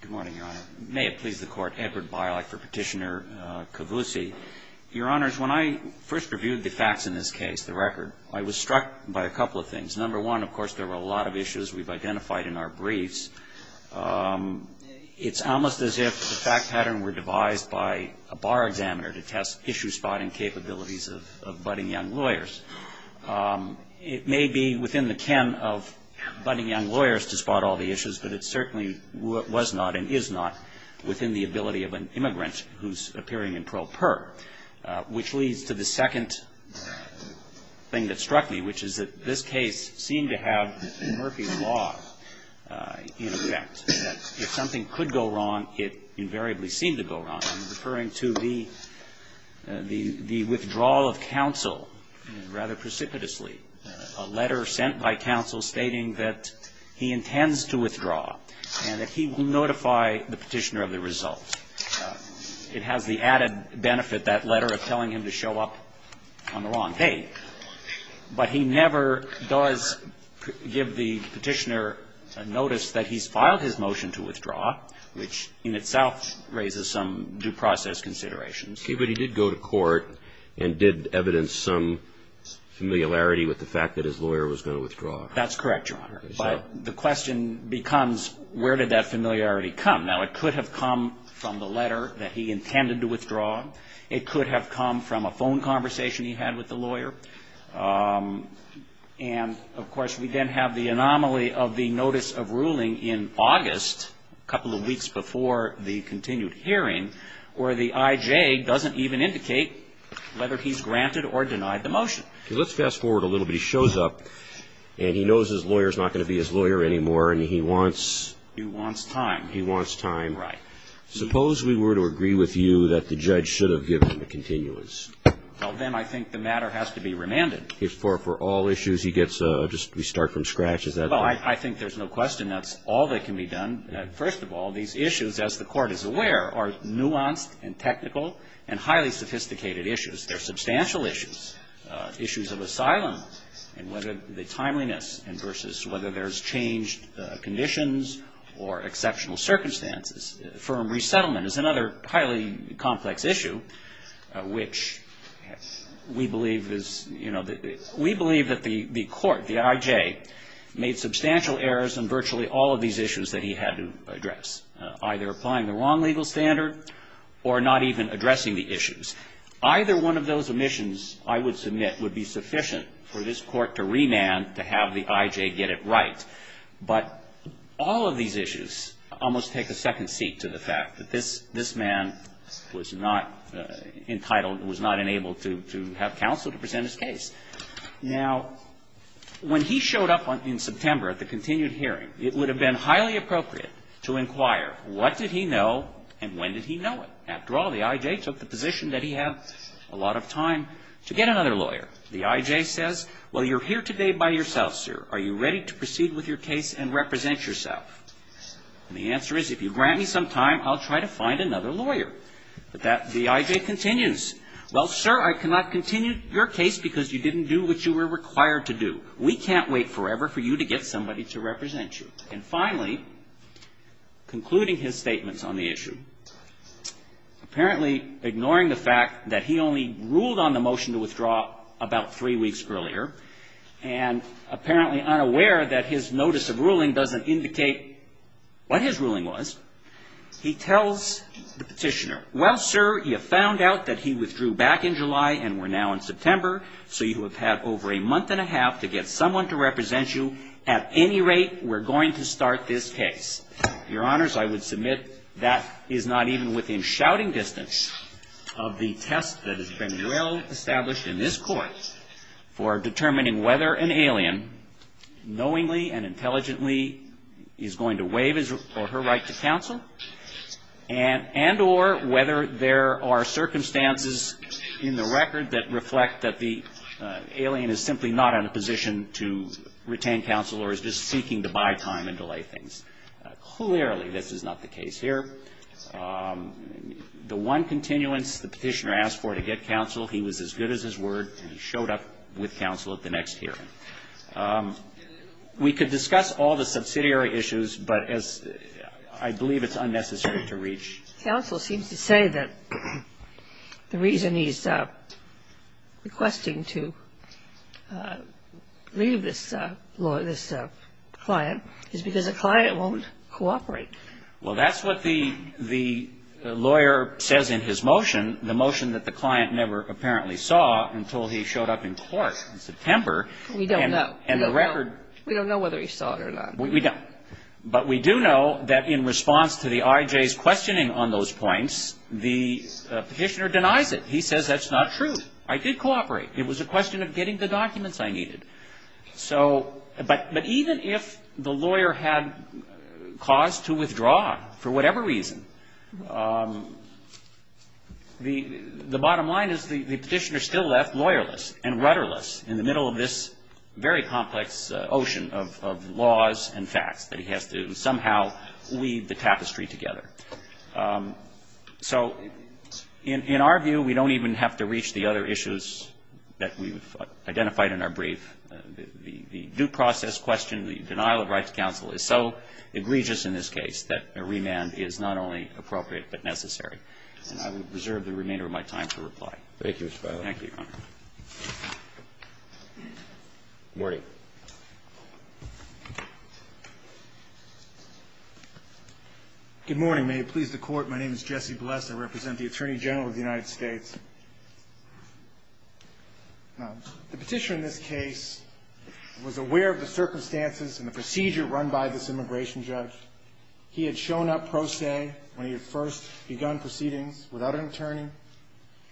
Good morning, Your Honor. May it please the Court, Edward Bialak for Petitioner Kavousi. Your Honors, when I first reviewed the facts in this case, the record, I was struck by a couple of things. Number one, of course, there were a lot of issues we've identified in our briefs. It's almost as if the fact pattern were devised by a bar examiner to test issue-spotting capabilities of budding young lawyers. It may be within the ken of budding young lawyers to spot all the issues, but it certainly was not and is not within the ability of an immigrant who's appearing in pro per. Which leads to the second thing that struck me, which is that this case seemed to have Murphy's Law in effect, that if something could go wrong, it invariably seemed to go wrong. I'm referring to the withdrawal of counsel rather precipitously. A letter sent by counsel stating that he intends to withdraw and that he will notify the petitioner of the result. It has the added benefit, that letter, of telling him to show up on the wrong day. But he never does give the petitioner a notice that he's filed his motion to withdraw, which in itself raises some due process considerations. Okay, but he did go to court and did evidence some familiarity with the fact that his lawyer was going to withdraw. That's correct, Your Honor. But the question becomes, where did that familiarity come? Now, it could have come from the letter that he intended to withdraw. It could have come from a phone conversation he had with the lawyer. And, of course, we then have the anomaly of the notice of ruling in August, a couple of weeks before the continued hearing, where the IJ doesn't even indicate whether he's granted or denied the motion. Okay, let's fast forward a little bit. He shows up and he knows his lawyer's not going to be his lawyer anymore and he wants... He wants time. He wants time. Right. Suppose we were to agree with you that the judge should have given the continuance. Well, then I think the matter has to be remanded. If for all issues he gets a just restart from scratch, is that... Well, I think there's no question that's all that can be done. First of all, these issues, as the Court is aware, are nuanced and technical and highly sophisticated issues. They're substantial issues. Issues of asylum and whether the timeliness versus whether there's changed conditions or exceptional circumstances. Firm resettlement is another highly complex issue, which we believe is, you know... We believe that the Court, the IJ, made substantial errors in virtually all of these issues that he had to address, either applying the wrong legal standard or not even addressing the issues. Either one of those omissions, I would submit, would be sufficient for this Court to remand to have the IJ get it right. But all of these issues almost take a second seat to the fact that this man was not entitled, was not enabled to have counsel to present his case. Now, when he showed up in September at the continued hearing, it would have been highly appropriate to inquire what did he know and when did he know it. After all, the IJ took the position that he had a lot of time to get another lawyer. The IJ says, well, you're here today by yourself, sir. Are you ready to proceed with your case and represent yourself? And the answer is, if you grant me some time, I'll try to find another lawyer. But that, the IJ continues, well, sir, I cannot continue your case because you didn't do what you were required to do. We can't wait forever for you to get somebody to represent you. And finally, concluding his statements on the issue, apparently ignoring the fact that he only ruled on the motion to withdraw about three weeks earlier and apparently unaware that his notice of ruling doesn't indicate what his ruling was, he tells the petitioner, well, sir, you found out that he withdrew back in July and we're now in September, so you have had over a month and a half to get someone to represent you. At any rate, we're going to start this case. Your Honors, I would submit that is not even within shouting distance of the test that has been well established in this Court for determining whether an alien knowingly and intelligently is going to waive his or her right to counsel and or whether there are circumstances in the record that reflect that the alien is simply not in a position to retain counsel or is just seeking to buy time and delay things. Clearly, this is not the case here. The one continuance the petitioner asked for to get counsel, he was as good as his word, and he showed up with counsel at the next hearing. We could discuss all the subsidiary issues, but as I believe it's unnecessary to reach. Counsel seems to say that the reason he's requesting to leave this client is because the client won't cooperate. Well, that's what the lawyer says in his motion, the motion that the client never apparently saw until he showed up in court in September. We don't know. And the record. We don't know whether he saw it or not. We don't. But we do know that in response to the IJ's questioning on those points, the petitioner denies it. He says that's not true. I did cooperate. It was a question of getting the documents I needed. So but even if the lawyer had cause to withdraw for whatever reason, the bottom line is the petitioner still left lawyerless and rudderless in the middle of this very complex ocean of laws and facts that he has to somehow lead the tapestry together. So in our view, we don't even have to reach the other issues that we've identified in our brief. The due process question, the denial of right to counsel is so egregious in this case that a remand is not only appropriate but necessary. And I will reserve the remainder of my time to reply. Thank you, Mr. Feiler. Thank you, Your Honor. Good morning. Good morning. May it please the Court, my name is Jesse Bless. I represent the Attorney General of the United States. The petitioner in this case was aware of the circumstances and the procedure run by this immigration judge. He had shown up pro se when he had first begun proceedings without an attorney.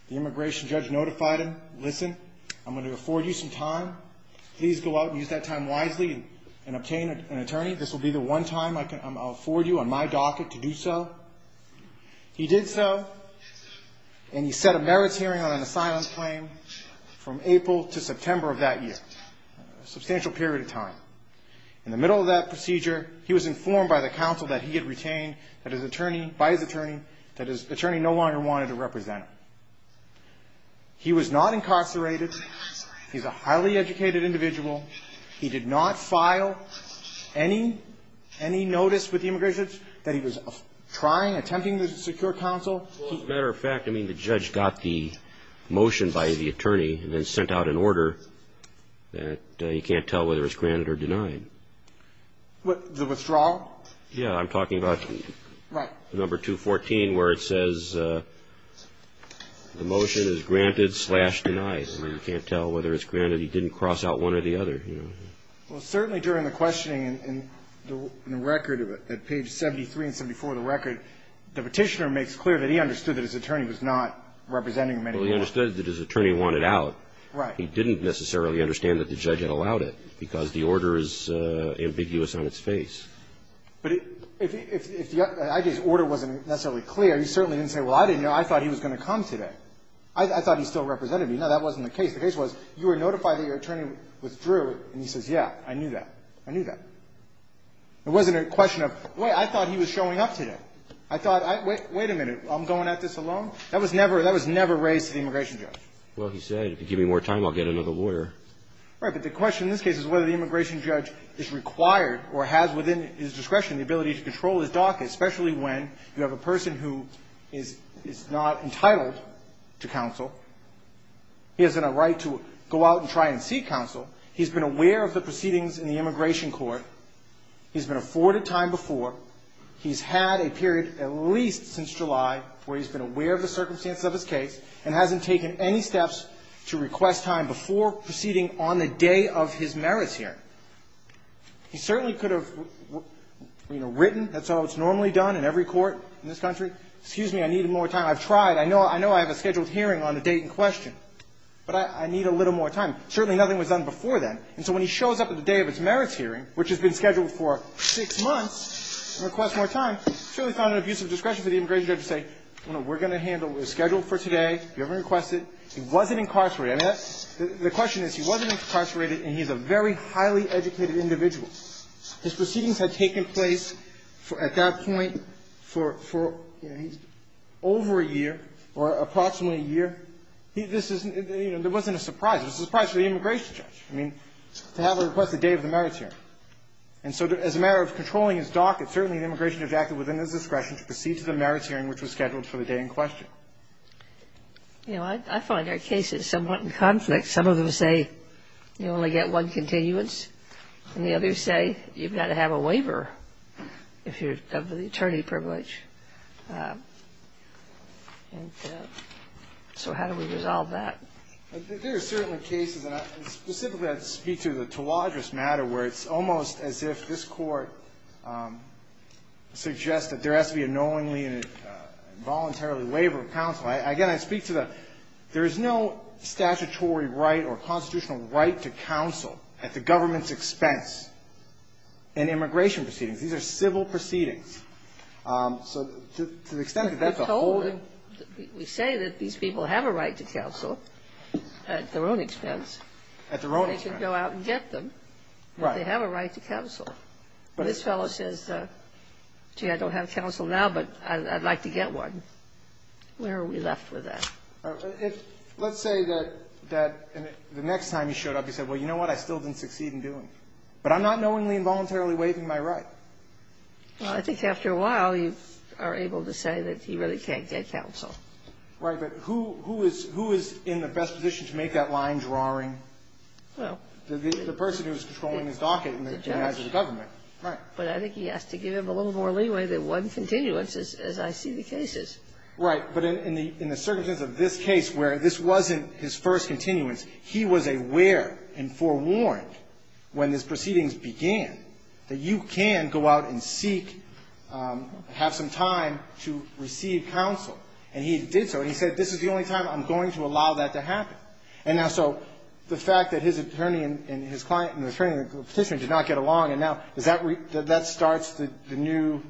The immigration judge notified him, listen, I'm going to afford you some time. Please go out and use that time wisely and obtain an attorney. This will be the one time I'll afford you on my docket to do so. He did so and he set a merits hearing on an asylum claim from April to September of that year, a substantial period of time. In the middle of that procedure, he was informed by the counsel that he had He was not incarcerated. He's a highly educated individual. He did not file any notice with the immigration judge that he was trying, attempting to secure counsel. Well, as a matter of fact, I mean, the judge got the motion by the attorney and then sent out an order that you can't tell whether it's granted or denied. What, the withdrawal? Yeah, I'm talking about number 214 where it says the motion is granted slash denied. I mean, you can't tell whether it's granted. He didn't cross out one or the other. Well, certainly during the questioning in the record at page 73 and 74 of the record, the petitioner makes clear that he understood that his attorney was not representing him anymore. Well, he understood that his attorney wanted out. Right. He didn't necessarily understand that the judge had allowed it because the order is ambiguous on its face. But if his order wasn't necessarily clear, he certainly didn't say, well, I didn't know. I thought he was going to come today. I thought he still represented me. No, that wasn't the case. The case was you were notified that your attorney withdrew, and he says, yeah, I knew that. I knew that. It wasn't a question of, wait, I thought he was showing up today. I thought, wait a minute, I'm going at this alone? That was never raised to the immigration judge. Well, he said, if you give me more time, I'll get another lawyer. Right, but the question in this case is whether the immigration judge is required or has within his discretion the ability to control his docket, especially when you have a person who is not entitled to counsel. He has a right to go out and try and seek counsel. He's been aware of the proceedings in the immigration court. He's been afforded time before. He's had a period at least since July where he's been aware of the circumstances of his case and hasn't taken any steps to request time before proceeding on the day of his merits hearing. He certainly could have, you know, written. That's how it's normally done in every court in this country. Excuse me, I need more time. I've tried. I know I have a scheduled hearing on a date in question, but I need a little more time. Certainly nothing was done before then, and so when he shows up at the day of his merits hearing, which has been scheduled for six months, and requests more time, certainly found it an abuse of discretion for the immigration judge to say, you know, we're going to handle it. It's scheduled for today. If you ever request it. He wasn't incarcerated. I mean, the question is, he wasn't incarcerated, and he's a very highly educated individual. His proceedings had taken place at that point for over a year or approximately a year. There wasn't a surprise. It was a surprise for the immigration judge. I mean, to have him request the day of the merits hearing. And so as a matter of controlling his docket, certainly the immigration judge acted within his discretion to proceed to the merits hearing, which was scheduled for the day in question. You know, I find our cases somewhat in conflict. Some of them say you only get one continuance, and the others say you've got to have a waiver if you're of the attorney privilege. And so how do we resolve that? There are certainly cases, and specifically I'd speak to the Tawadrous matter, where it's almost as if this Court suggests that there has to be a knowingly and involuntarily waiver of counsel. Again, I speak to the there is no statutory right or constitutional right to counsel at the government's expense in immigration proceedings. These are civil proceedings. So to the extent that that's a holding. We say that these people have a right to counsel at their own expense. At their own expense. They can go out and get them. Right. But they have a right to counsel. But this fellow says, gee, I don't have counsel now, but I'd like to get one. Where are we left with that? Let's say that the next time he showed up, he said, well, you know what? I still didn't succeed in doing it. But I'm not knowingly and involuntarily waiving my right. Well, I think after a while, you are able to say that he really can't get counsel. But who is in the best position to make that line drawing? Well. The person who is controlling his docket in the eyes of the government. Right. But I think he has to give him a little more leeway than one continuance as I see the cases. Right. But in the circumstances of this case where this wasn't his first continuance, he was aware and forewarned when these proceedings began that you can go out and seek or have some time to receive counsel. And he did so. And he said, this is the only time I'm going to allow that to happen. And now, so the fact that his attorney and his client and the attorney of the petitioner did not get along, and now, does that start a new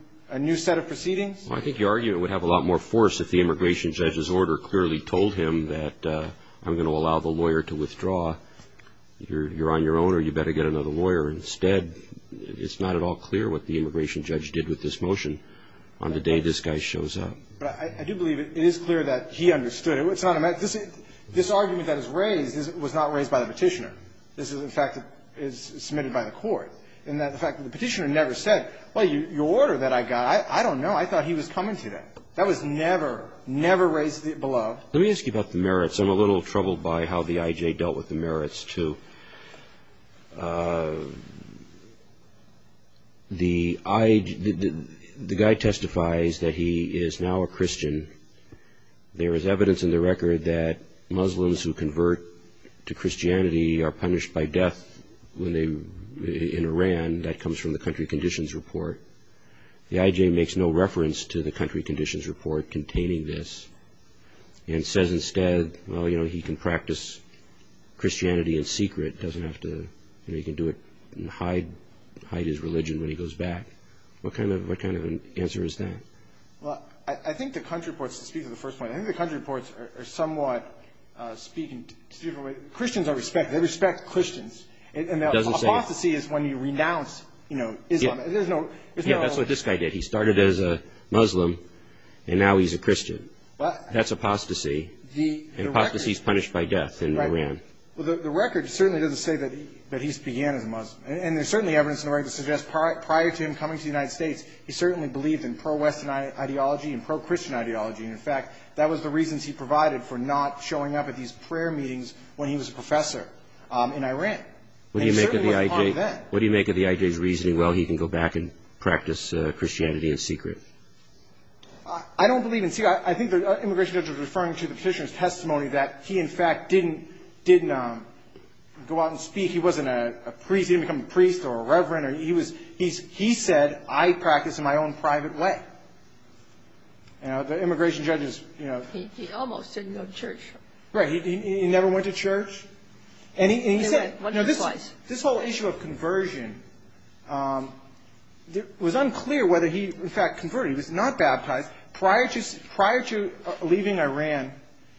set of proceedings? Well, I think your argument would have a lot more force if the immigration judge's order clearly told him that I'm going to allow the lawyer to withdraw. You're on your own or you better get another lawyer. Instead, it's not at all clear what the immigration judge did with this motion on the day this guy shows up. But I do believe it is clear that he understood. It's not a matter of this argument that is raised was not raised by the petitioner. This is a fact that is submitted by the court. And the fact that the petitioner never said, well, your order that I got, I don't know. I thought he was coming today. That was never, never raised below. Let me ask you about the merits. I'm a little troubled by how the I.J. dealt with the merits, too. The I.J. the guy testifies that he is now a Christian. There is evidence in the record that Muslims who convert to Christianity are punished by death in Iran. That comes from the country conditions report. The I.J. makes no reference to the country conditions report containing this and says instead, well, you know, he can practice Christianity in secret. He can do it and hide his religion when he goes back. What kind of an answer is that? Well, I think the country reports speak to the first point. I think the country reports are somewhat speaking to different ways. Christians are respected. They respect Christians. It doesn't say apostasy is when you renounce, you know, Islam. There's no. Yeah, that's what this guy did. He started as a Muslim and now he's a Christian. That's apostasy. The apostasy is punished by death in Iran. Well, the record certainly doesn't say that he began as a Muslim. And there's certainly evidence in the record that suggests prior to him coming to the country, he had a Christian ideology and pro-Christian ideology. And, in fact, that was the reasons he provided for not showing up at these prayer meetings when he was a professor in Iran. And certainly it was hard then. What do you make of the I.J.'s reasoning, well, he can go back and practice Christianity in secret? I don't believe in secret. I think the immigration judge was referring to the Petitioner's testimony that he, in fact, didn't go out and speak. He wasn't a priest. He didn't become a priest or a reverend. He said, I practice in my own private way. The immigration judge is, you know. He almost didn't go to church. Right. He never went to church. And he said, this whole issue of conversion, it was unclear whether he, in fact, converted. He was not baptized. Prior to leaving Iran,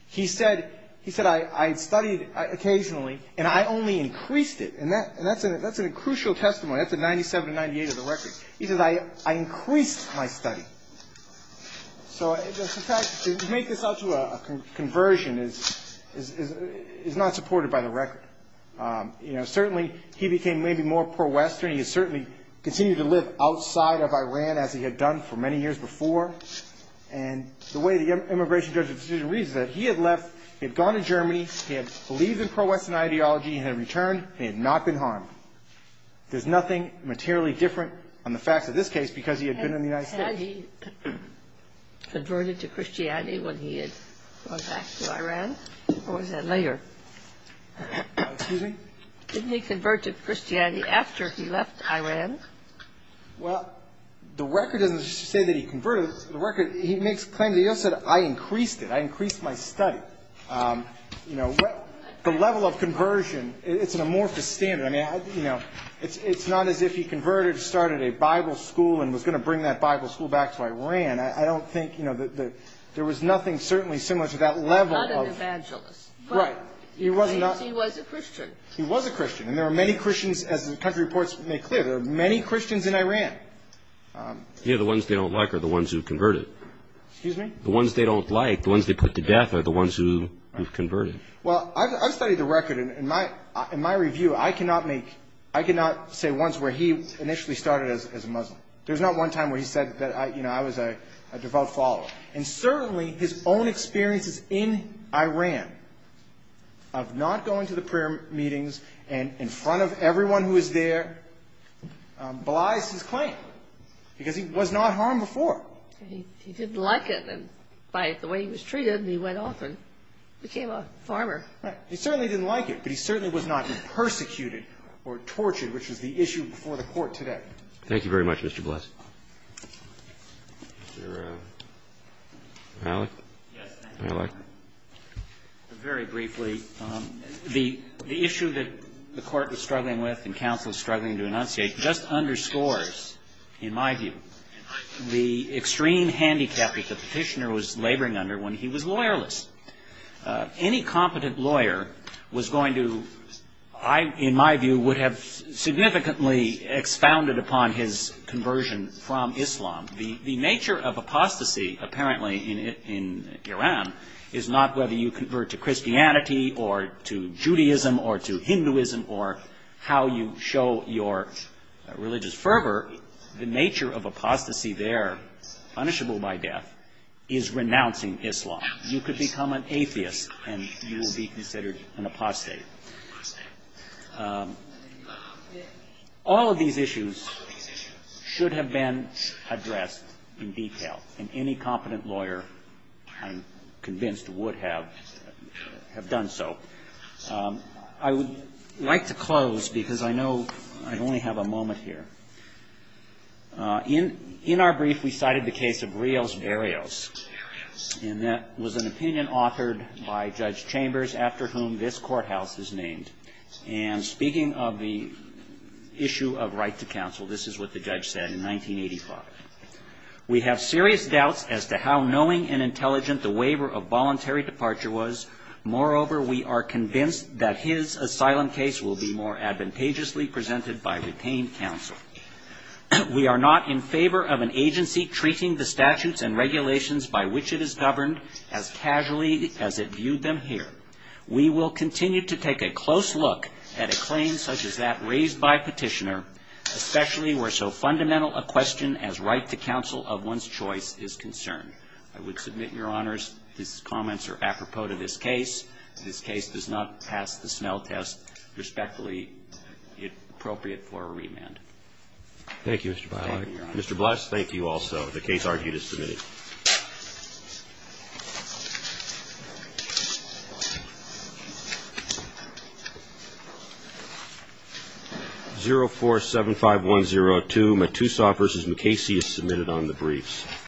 he said, I studied occasionally and I only increased it. And that's a crucial testimony. That's in 97 and 98 of the record. He said, I increased my study. So, in fact, to make this out to a conversion is not supported by the record. You know, certainly he became maybe more pro-Western. He certainly continued to live outside of Iran, as he had done for many years before. And the way the immigration judge's decision reads is that he had left, he had gone to Germany, he had believed in pro-Western ideology and had returned. He had not been harmed. There's nothing materially different on the facts of this case because he had been in the United States. Had he converted to Christianity when he had gone back to Iran? Or was that later? Excuse me? Didn't he convert to Christianity after he left Iran? Well, the record doesn't say that he converted. The record, he makes claims. He also said, I increased it. I increased my study. You know, the level of conversion, it's an amorphous standard. I mean, you know, it's not as if he converted, started a Bible school and was going to bring that Bible school back to Iran. I don't think, you know, there was nothing certainly similar to that level of. Not an evangelist. Right. He was a Christian. He was a Christian. And there are many Christians, as the country reports make clear, there are many Christians in Iran. You know, the ones they don't like are the ones who converted. Excuse me? The ones they don't like, the ones they put to death are the ones who converted. Well, I've studied the record. In my review, I cannot make, I cannot say once where he initially started as a Muslim. There's not one time where he said that, you know, I was a devout follower. And certainly his own experiences in Iran of not going to the prayer meetings and in front of everyone who was there belies his claim because he was not harmed before. He didn't like it. And by the way he was treated, he went off and became a farmer. Right. He certainly didn't like it. But he certainly was not persecuted or tortured, which was the issue before the court today. Thank you very much, Mr. Bliss. Mr. Malik? Yes, thank you, Your Honor. Malik. Very briefly, the issue that the court was struggling with and counsel was struggling to enunciate just underscores, in my view, the extreme handicap that the petitioner was laboring under when he was lawyerless. Any competent lawyer was going to, in my view, would have significantly expounded upon his conversion from Islam. The nature of apostasy apparently in Iran is not whether you convert to Christianity or to Judaism or to Hinduism or how you show your religious fervor. The nature of apostasy there, punishable by death, is renouncing Islam. You could become an atheist and you would be considered an apostate. All of these issues should have been addressed in detail and any competent lawyer, I'm convinced, would have done so. I would like to close because I know I only have a moment here. In our brief, we cited the case of Rios-Barrios. And that was an opinion authored by Judge Chambers, after whom this courthouse is named. And speaking of the issue of right to counsel, this is what the judge said in 1985. We have serious doubts as to how knowing and intelligent the waiver of voluntary departure was. Moreover, we are convinced that his asylum case will be more advantageously presented by retained counsel. We are not in favor of an agency treating the statutes and regulations by which it is governed as casually as it viewed them here. We will continue to take a close look at a claim such as that raised by petitioner, especially where there is a fundamental question as right to counsel of one's choice is concerned. I would submit, Your Honors, these comments are apropos to this case. This case does not pass the Snell test. Respectfully, it's appropriate for a remand. Thank you, Mr. Biley. Thank you, Your Honors. Mr. Bless, thank you also. The case argued is submitted. 0475102, Matusoff v. MacCasey is submitted on the briefs.